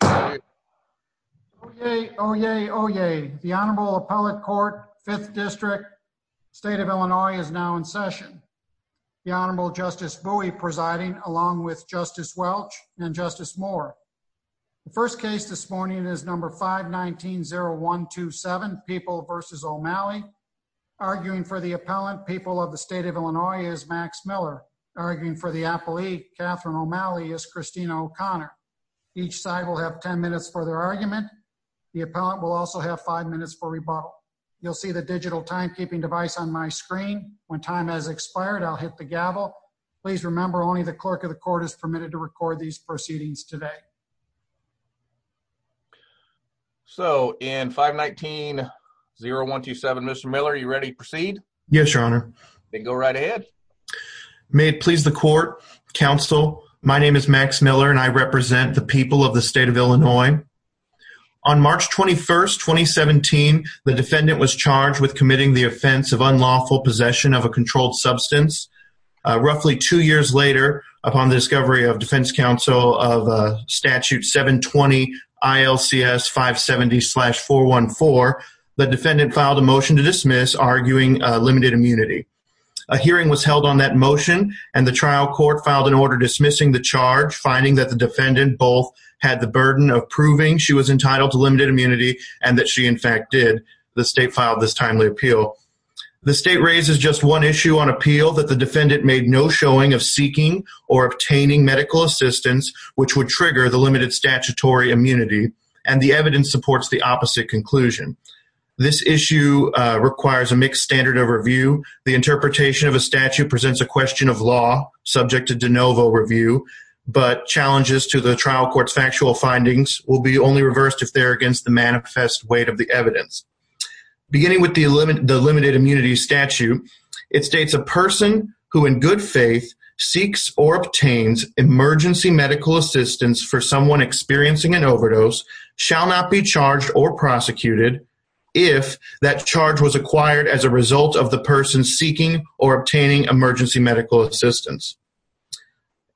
Oyez, oyez, oyez. The Honorable Appellate Court, 5th District, State of Illinois, is now in session. The Honorable Justice Bowie presiding, along with Justice Welch and Justice Moore. The first case this morning is number 519-0127, People v. O'Malley. Arguing for the appellant, People of the State of Illinois, is Max Miller. Arguing for the appellee, Catherine O'Malley, is Christina O'Connor. Each side will have 10 minutes for their argument. The appellant will also have 5 minutes for rebuttal. You'll see the digital timekeeping device on my screen. When time has expired, I'll hit the gavel. Please remember, only the clerk of the court is permitted to record these proceedings today. So, in 519-0127, Mr. Miller, are you ready to proceed? Yes, Your Honor. Then go right ahead. May it please the court. Counsel, my name is Max Miller and I represent the People of the State of Illinois. On March 21st, 2017, the defendant was charged with committing the offense of unlawful possession of a controlled substance. Roughly two years later, upon the discovery of defense counsel of statute 720-ILCS-570-414, the defendant filed a motion to dismiss, arguing limited immunity. A hearing was held on that motion, and the trial court filed an order dismissing the charge, finding that the defendant both had the burden of proving she was entitled to limited immunity and that she, in fact, did. The state filed this timely appeal. The state raises just one issue on appeal that the defendant made no showing of seeking or obtaining medical assistance, which would trigger the limited statutory immunity, and the evidence supports the opposite conclusion. This issue requires a mixed standard of review. The interpretation of a statute presents a question of law subject to de novo review, but challenges to the trial court's factual findings will be only reversed if they're against the manifest weight of the evidence. Beginning with the limited immunity statute, it states a person who in good faith seeks or obtains emergency medical assistance for someone experiencing an overdose shall not be charged or prosecuted if that charge was acquired as a result of the person seeking or obtaining emergency medical assistance.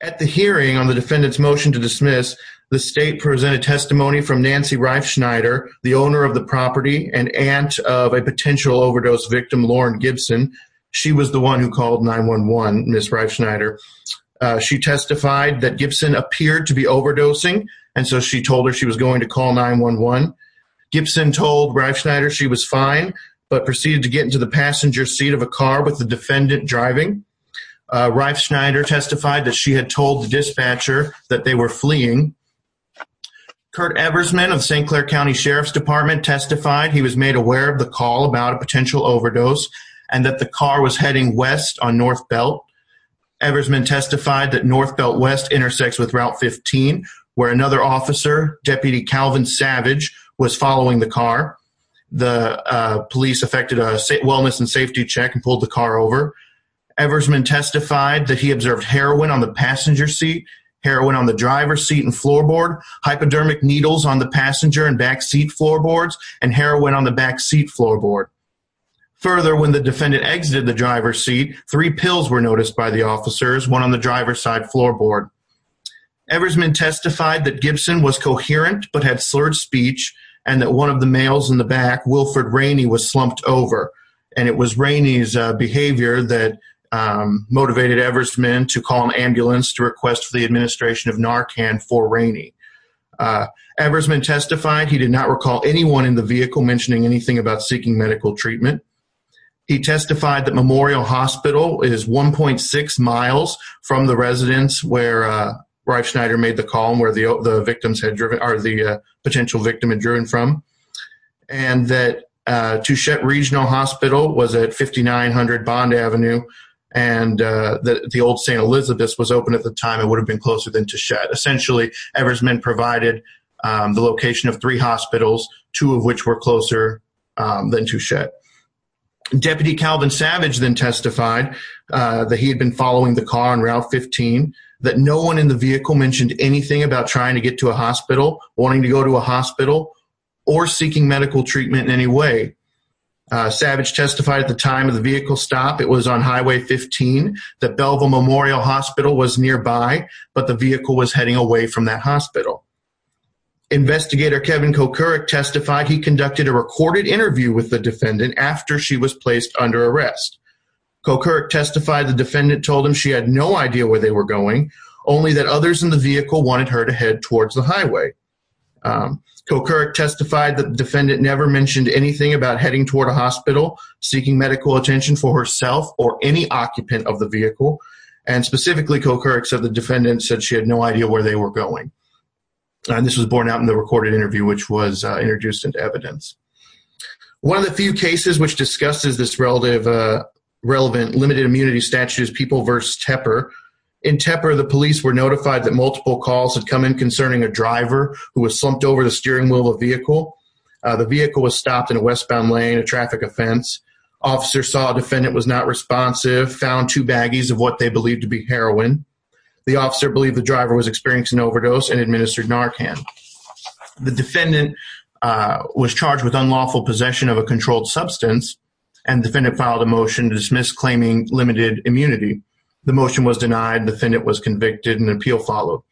At the hearing on the defendant's motion to dismiss, the state presented testimony from Nancy Reifschneider, the owner of the property and aunt of a potential overdose victim, Lauren Gibson. She was the one who called 911, Ms. Reifschneider. She testified that Gibson appeared to be overdosing, and so she told her she was going to call 911. Gibson told Reifschneider she was fine, but proceeded to get into the passenger seat of a car with the defendant driving. Reifschneider testified that she had told the dispatcher that they were fleeing. Kurt Eversman of St. Clair County Sheriff's Department testified he was made aware of the call about a potential overdose, and that the car was heading west on North Belt. Eversman testified that North Belt West intersects with Route 15, where another officer, Deputy Calvin Savage, was following the car. The police effected a wellness and safety check and pulled the car over. Eversman testified that he observed heroin on the passenger seat, heroin on the driver's seat and floorboard, hypodermic needles on the passenger and backseat floorboards, and heroin on the backseat floorboard. Further, when the defendant exited the driver's seat, three pills were noticed by the officers, one on the driver's side floorboard. Eversman testified that Gibson was coherent, but had slurred speech, and that one of the males in the back, Wilford Rainey, was slumped over. And it was Rainey's behavior that motivated Eversman to call an ambulance to request for the administration of Narcan for Rainey. Eversman testified he did not recall anyone in the vehicle mentioning anything about seeking medical treatment. He testified that Memorial Hospital is 1.6 miles from the residence where Reif Schneider made the call, and where the victims had driven, or the potential victim had driven from. And that Touchette Regional Hospital was at 5900 Bond Avenue, and that the old St. Elizabeth's was open at the time, it would have been closer than Touchette. Essentially, Eversman provided the location of three hospitals, two of which were closer than Touchette. Deputy Calvin Savage then testified that he had been following the car on Route 15, that no one in the vehicle mentioned anything about trying to get to a hospital, wanting to go to a hospital, or seeking medical treatment in any way. Savage testified at the time of the vehicle stop, it was on Highway 15, that Belleville Memorial Hospital was nearby, but the vehicle was heading away from that hospital. Investigator Kevin Kokurek testified he conducted a recorded interview with the defendant after she was placed under arrest. Kokurek testified the defendant told him she had no idea where they were going, only that others in the vehicle wanted her to head towards the highway. Kokurek testified the defendant never mentioned anything about heading toward a hospital, seeking medical attention for herself, or any occupant of the vehicle. And specifically, Kokurek said the defendant said she had no idea where they were going. And this was borne out in the recorded interview, which was introduced into evidence. One of the few cases which discusses this relative, relevant limited immunity statute is People v. Tepper. In Tepper, the police were notified that multiple calls had come in concerning a driver who was slumped over the steering wheel of a vehicle. The vehicle was stopped in a westbound lane, a traffic offense. Officer saw defendant was not responsive, found two baggies of what they believed to be heroin. The officer believed the driver was experiencing overdose and administered Narcan. The defendant was charged with unlawful possession of a controlled substance, and defendant filed a motion to dismiss claiming limited immunity. The motion was denied. Defendant was convicted, and an appeal followed.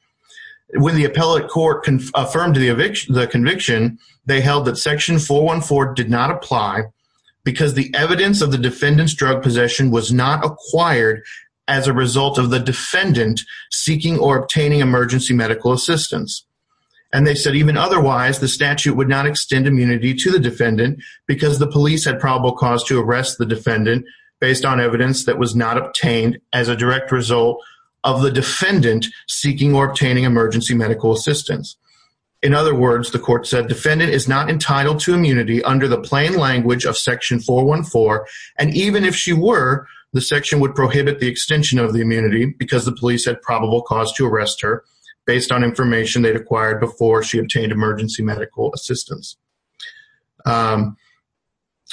When the appellate court affirmed the conviction, they held that section 414 did not apply because the evidence of the defendant's drug possession was not acquired as a result of the defendant seeking or obtaining emergency medical assistance. And they said even otherwise, the statute would not extend immunity to the defendant because the police had probable cause to arrest the defendant based on evidence that was not obtained as a direct result of the defendant seeking or obtaining emergency medical assistance. In other words, the court said defendant is not entitled to immunity under the plain language of section 414. And even if she were, the section would prohibit the extension of the immunity because the obtained emergency medical assistance.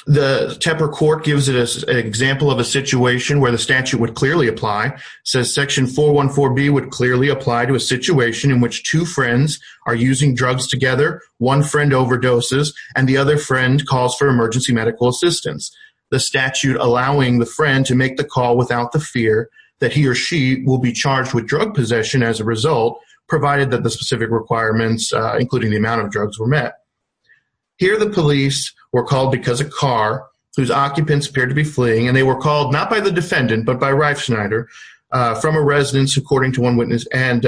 The Tepper court gives us an example of a situation where the statute would clearly apply, says section 414B would clearly apply to a situation in which two friends are using drugs together, one friend overdoses, and the other friend calls for emergency medical assistance. The statute allowing the friend to make the call without the fear that he or she will be charged with drug possession as a result, provided that the specific requirements, including the amount of drugs were met. Here, the police were called because a car whose occupants appeared to be fleeing, and they were called not by the defendant, but by Reifschneider from a residence, according to one witness, and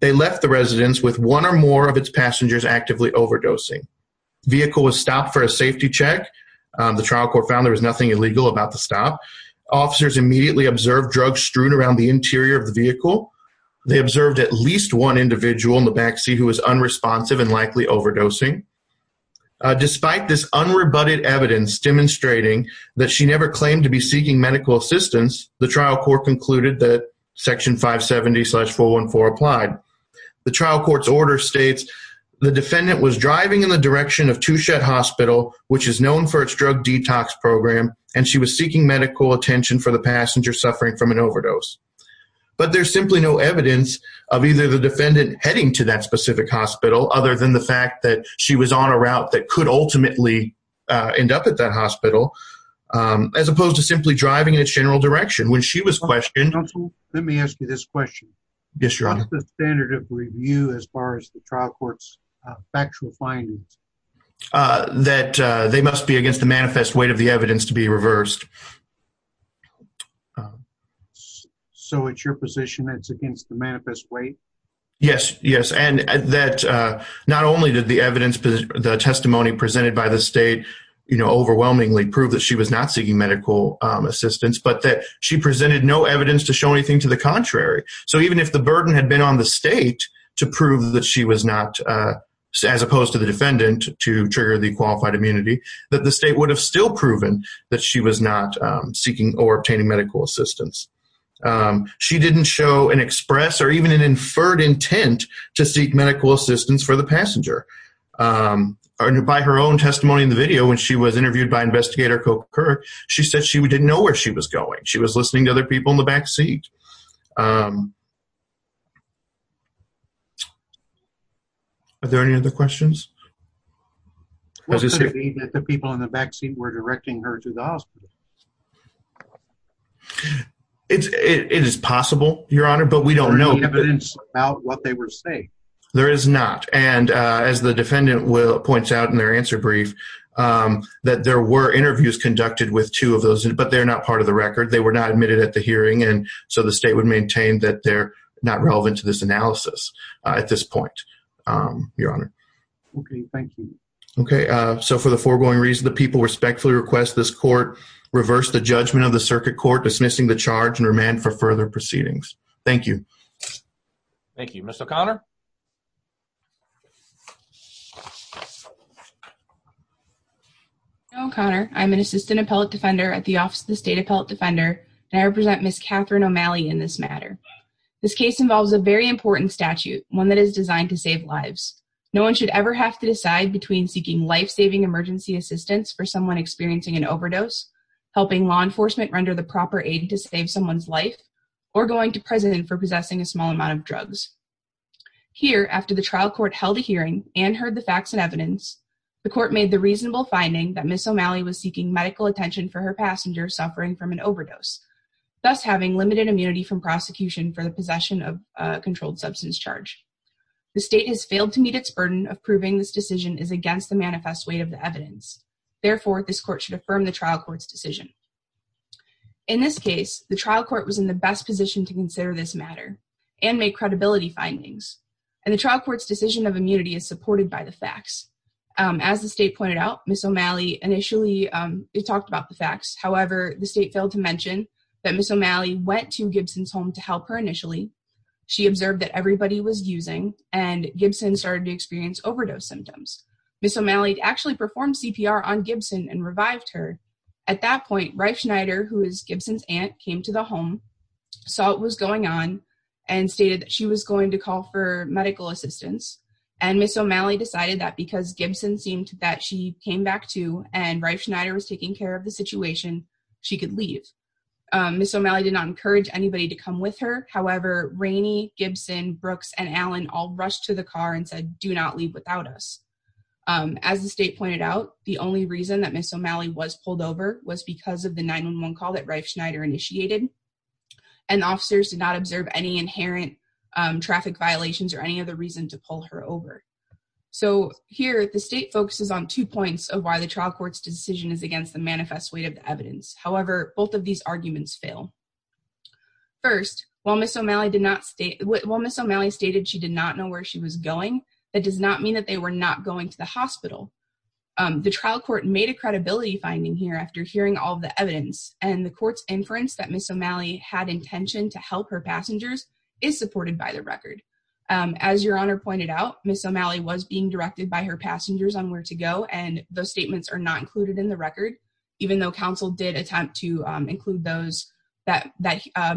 they left the residence with one or more of its passengers actively overdosing. Vehicle was stopped for a safety check. The trial court found there was nothing illegal about the stop. Officers immediately observed drugs strewn around the interior of the vehicle. They observed at least one individual in the backseat who was unresponsive and likely overdosing. Despite this unrebutted evidence demonstrating that she never claimed to be seeking medical assistance, the trial court concluded that section 570-414 applied. The trial court's order states, the defendant was driving in the direction of Touchet hospital, which is known for its drug detox program, and she was seeking medical attention for the passenger suffering from an overdose. But there's simply no evidence of either the defendant heading to that specific hospital, other than the fact that she was on a route that could ultimately end up at that hospital, as opposed to simply driving in its general direction. When she was questioned... Let me ask you this question. Yes, your honor. What's the standard of review as far as the trial court's factual findings? Uh, that they must be against the manifest weight of the evidence to be reversed. So it's your position that it's against the manifest weight? Yes, yes. And that not only did the evidence, the testimony presented by the state, you know, overwhelmingly prove that she was not seeking medical assistance, but that she presented no evidence to show anything to the contrary. So even if the burden had been on the state to prove that she was not, as opposed to the defendant, to trigger the qualified immunity, that the state would have still proven that she was not seeking or obtaining medical assistance. She didn't show an express or even an inferred intent to seek medical assistance for the passenger. By her own testimony in the video, when she was interviewed by investigator Coker, she said she didn't know where she was going. She was listening to other people in the back seat. Are there any other questions? What does it mean that the people in the back seat were directing her to the hospital? It's, it is possible, your honor, but we don't know about what they were saying. There is not. And, uh, as the defendant will points out in their answer brief, um, that there were interviews conducted with two of those, but they're not part of the record. They were not admitted at the hearing. And so the state would maintain that they're not relevant to this analysis at this point. Um, your honor. Okay. Thank you. Okay. Uh, so for the foregoing reason, the people respectfully request this court reverse the judgment of the circuit court, dismissing the charge and remand for further proceedings. Thank you. Thank you. Mr. O'Connor. Hello, O'Connor. I'm an assistant appellate defender at the office of the state appellate defender. And I represent Ms. Catherine O'Malley in this matter. This case involves a very important statute, one that is designed to save lives. No one should ever have to decide between seeking life-saving emergency assistance for someone experiencing an overdose, helping law enforcement render the proper aid to save someone's life or going to prison for possessing a small amount of drugs. Here, after the trial court held a hearing and heard the facts and evidence, the court made the reasonable finding that Ms. O'Malley was seeking medical attention for her passenger suffering from an overdose, thus having limited immunity from prosecution for the possession of a controlled substance charge. The state has failed to meet its burden of proving this decision is against the manifest weight of the evidence. Therefore, this court should affirm the trial court's decision. In this case, the trial court was in the best position to consider this matter and make credibility findings. And the trial court's decision of immunity is supported by the facts. As the state pointed out, Ms. O'Malley initially talked about the facts. However, the state failed to mention that Ms. O'Malley went to Gibson's home to help her initially. She observed that everybody was using and Gibson started to experience overdose symptoms. Ms. O'Malley actually performed CPR on Gibson and revived her. At that point, Reif Schneider, who is Gibson's aunt, came to the home, saw what was going on and stated that she was going to call for medical assistance. And Ms. O'Malley decided that because Gibson seemed that she came back to and Reif Schneider was taking care of the situation, she could leave. Ms. O'Malley did not encourage anybody to come with her. However, Rainey, Gibson, Brooks, and Allen all rushed to the car and said, do not leave without us. As the state pointed out, the only reason that Ms. O'Malley was pulled over was because of the 911 call that Reif Schneider initiated. And officers did not observe any inherent traffic violations or any other reason to pull her over. So here, the state focuses on two points of why the trial court's decision is against the manifest weight of the evidence. However, both of these arguments fail. First, while Ms. O'Malley stated she did not know where she was going, that does not mean that they were not going to the hospital. The trial court made a credibility finding here after hearing all of the evidence. And the court's inference that Ms. O'Malley had intention to help her passengers is supported by the record. As Your Honor pointed out, Ms. O'Malley was being directed by her passengers on where to go. And those statements are not included in the record, even though counsel did attempt to that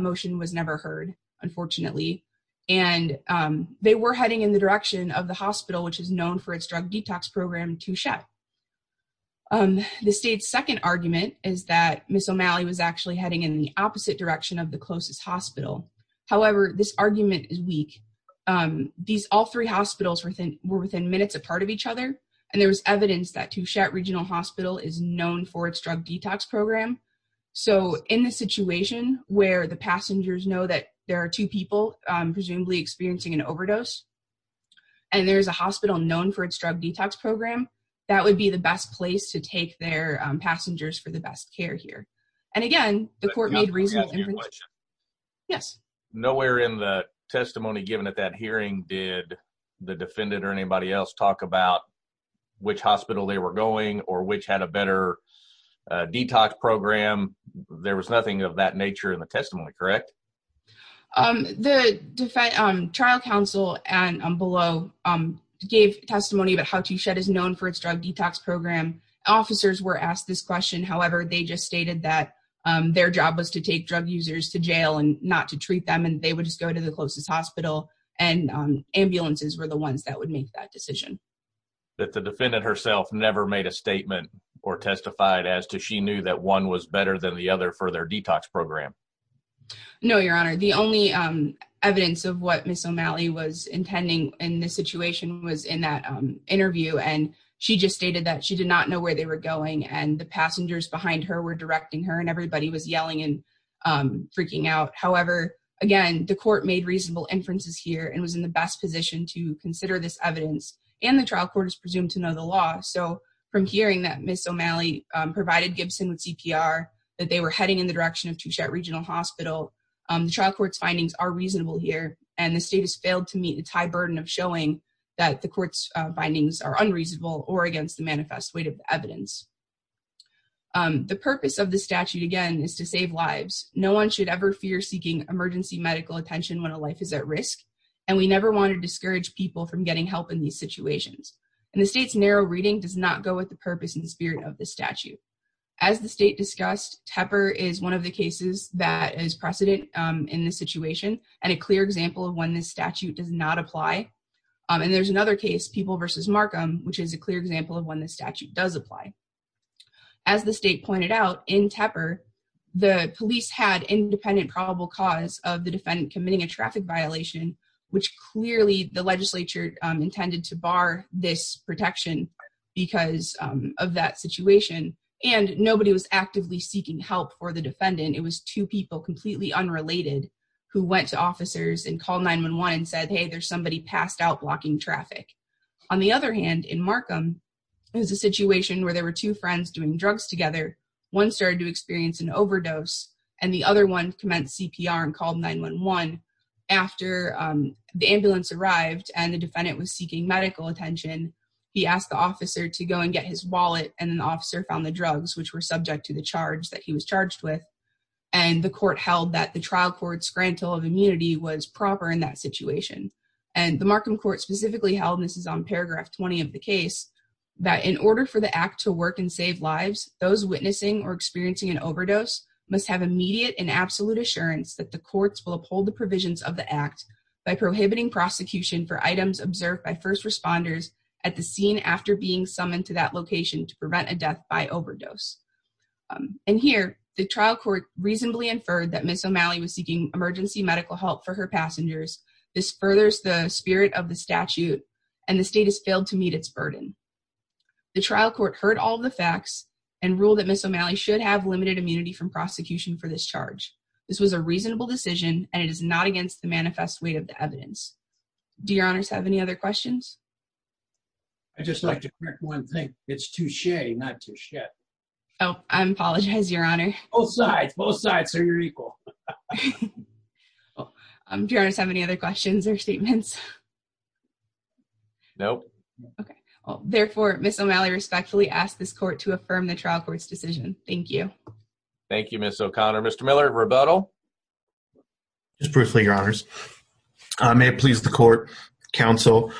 motion was never heard, unfortunately. And they were heading in the direction of the hospital, which is known for its drug detox program, Touchette. The state's second argument is that Ms. O'Malley was actually heading in the opposite direction of the closest hospital. However, this argument is weak. These all three hospitals were within minutes apart of each other. And there was evidence that Touchette Regional Hospital is known for its drug detox program. So in the situation where the passengers know that there are two people presumably experiencing an overdose and there's a hospital known for its drug detox program, that would be the best place to take their passengers for the best care here. And again, the court made reasonable inference. Yes. Nowhere in the testimony given at that hearing did the defendant or anybody else talk about which hospital they were going or which had a better detox program. There was nothing of that nature in the testimony, correct? The trial counsel and below gave testimony about how Touchette is known for its drug detox program. Officers were asked this question. However, they just stated that their job was to take drug users to jail and not to treat them and they would just go to the closest hospital. And ambulances were the ones that would make that decision. The defendant herself never made a statement or testified as to she knew that one was better than the other for their detox program. No, Your Honor, the only evidence of what Miss O'Malley was intending in this situation was in that interview. And she just stated that she did not know where they were going and the passengers behind her were directing her and everybody was yelling and freaking out. However, again, the court made reasonable inferences here and was in the best position to consider this evidence and the trial court is presumed to know the law. So from hearing that Miss O'Malley provided Gibson with CPR, that they were heading in the direction of Touchette Regional Hospital, the trial court's findings are reasonable here and the state has failed to meet its high burden of showing that the court's findings are unreasonable or against the manifest weight of evidence. The purpose of the statute, again, is to save lives. No one should ever fear seeking emergency medical attention when a life is at risk. And we never want to discourage people from getting help in these situations. And the state's narrow reading does not go with the purpose and spirit of the statute. As the state discussed, Tepper is one of the cases that is precedent in this situation and a clear example of when this statute does not apply. And there's another case, People v. Markham, which is a clear example of when the statute does apply. As the state pointed out, in Tepper, the police had independent probable cause of the defendant committing a traffic violation, which clearly the legislature intended to bar this protection because of that situation. And nobody was actively seeking help for the defendant. It was two people, completely unrelated, who went to officers and called 911 and said, hey, there's somebody passed out blocking traffic. On the other hand, in Markham, it was a situation where there were two friends doing drugs together. One started to experience an overdose, and the other one commenced CPR and called 911. After the ambulance arrived and the defendant was seeking medical attention, he asked the officer to go and get his wallet. And then the officer found the drugs, which were subject to the charge that he was charged with. And the court held that the trial court's grantal of immunity was proper in that situation. And the Markham court specifically held, and this is on paragraph 20 of the case, that in order for the act to work and save lives, those witnessing or experiencing an overdose must have immediate and absolute assurance that the courts will uphold the provisions of the act by prohibiting prosecution for items observed by first responders at the scene after being summoned to that location to prevent a death by overdose. And here, the trial court reasonably inferred that Ms. O'Malley was seeking emergency medical help for her passengers. This furthers the spirit of the statute, and the state has failed to meet its burden. The trial court heard all the facts and ruled that Ms. O'Malley should have limited immunity from prosecution for this charge. This was a reasonable decision, and it is not against the manifest weight of the evidence. Do your honors have any other questions? I'd just like to correct one thing. It's touche, not touche. Oh, I apologize, your honor. Both sides. Both sides are your equal. Do your honors have any other questions or statements? Nope. Okay. Therefore, Ms. O'Malley respectfully ask this court to affirm the trial court's decision. Thank you. Thank you, Ms. O'Connor. Mr. Miller, rebuttal? Just briefly, your honors. May it please the court, counsel.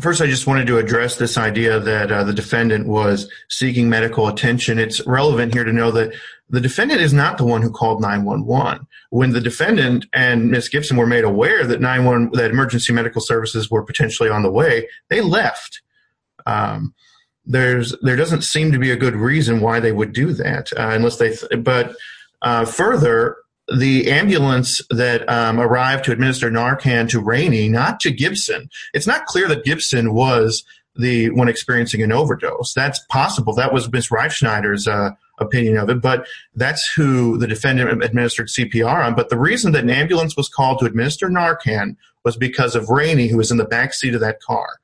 First, I just wanted to address this idea that the defendant was seeking medical attention. It's relevant here to know that the defendant is not the one who called 911. When the defendant and Ms. Gibson were made aware that 911, that emergency medical services were potentially on the way, they left. There doesn't seem to be a good reason why they would do that. But further, the ambulance that arrived to administer Narcan to Rainey, not to Gibson. It's not clear that Gibson was the one experiencing an overdose. That's possible. That was Ms. Reifschneider's opinion of it, but that's who the defendant administered CPR on. But the reason that an ambulance was called to administer Narcan was because of Rainey, who was in the backseat of that car.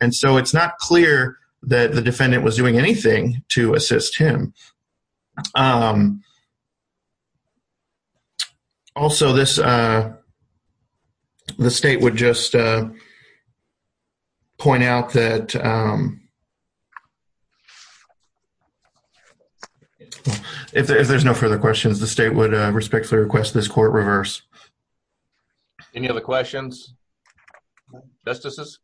And so it's not clear that the defendant was doing anything to assist him. Also, the state would just point out that... If there's no further questions, the state would respectfully request this court reverse. Any other questions? Justices?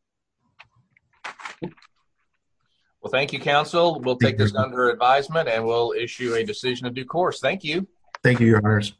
Well, thank you, counsel. We'll take this under advisement and we'll issue a decision of due course. Thank you. Thank you, your honors.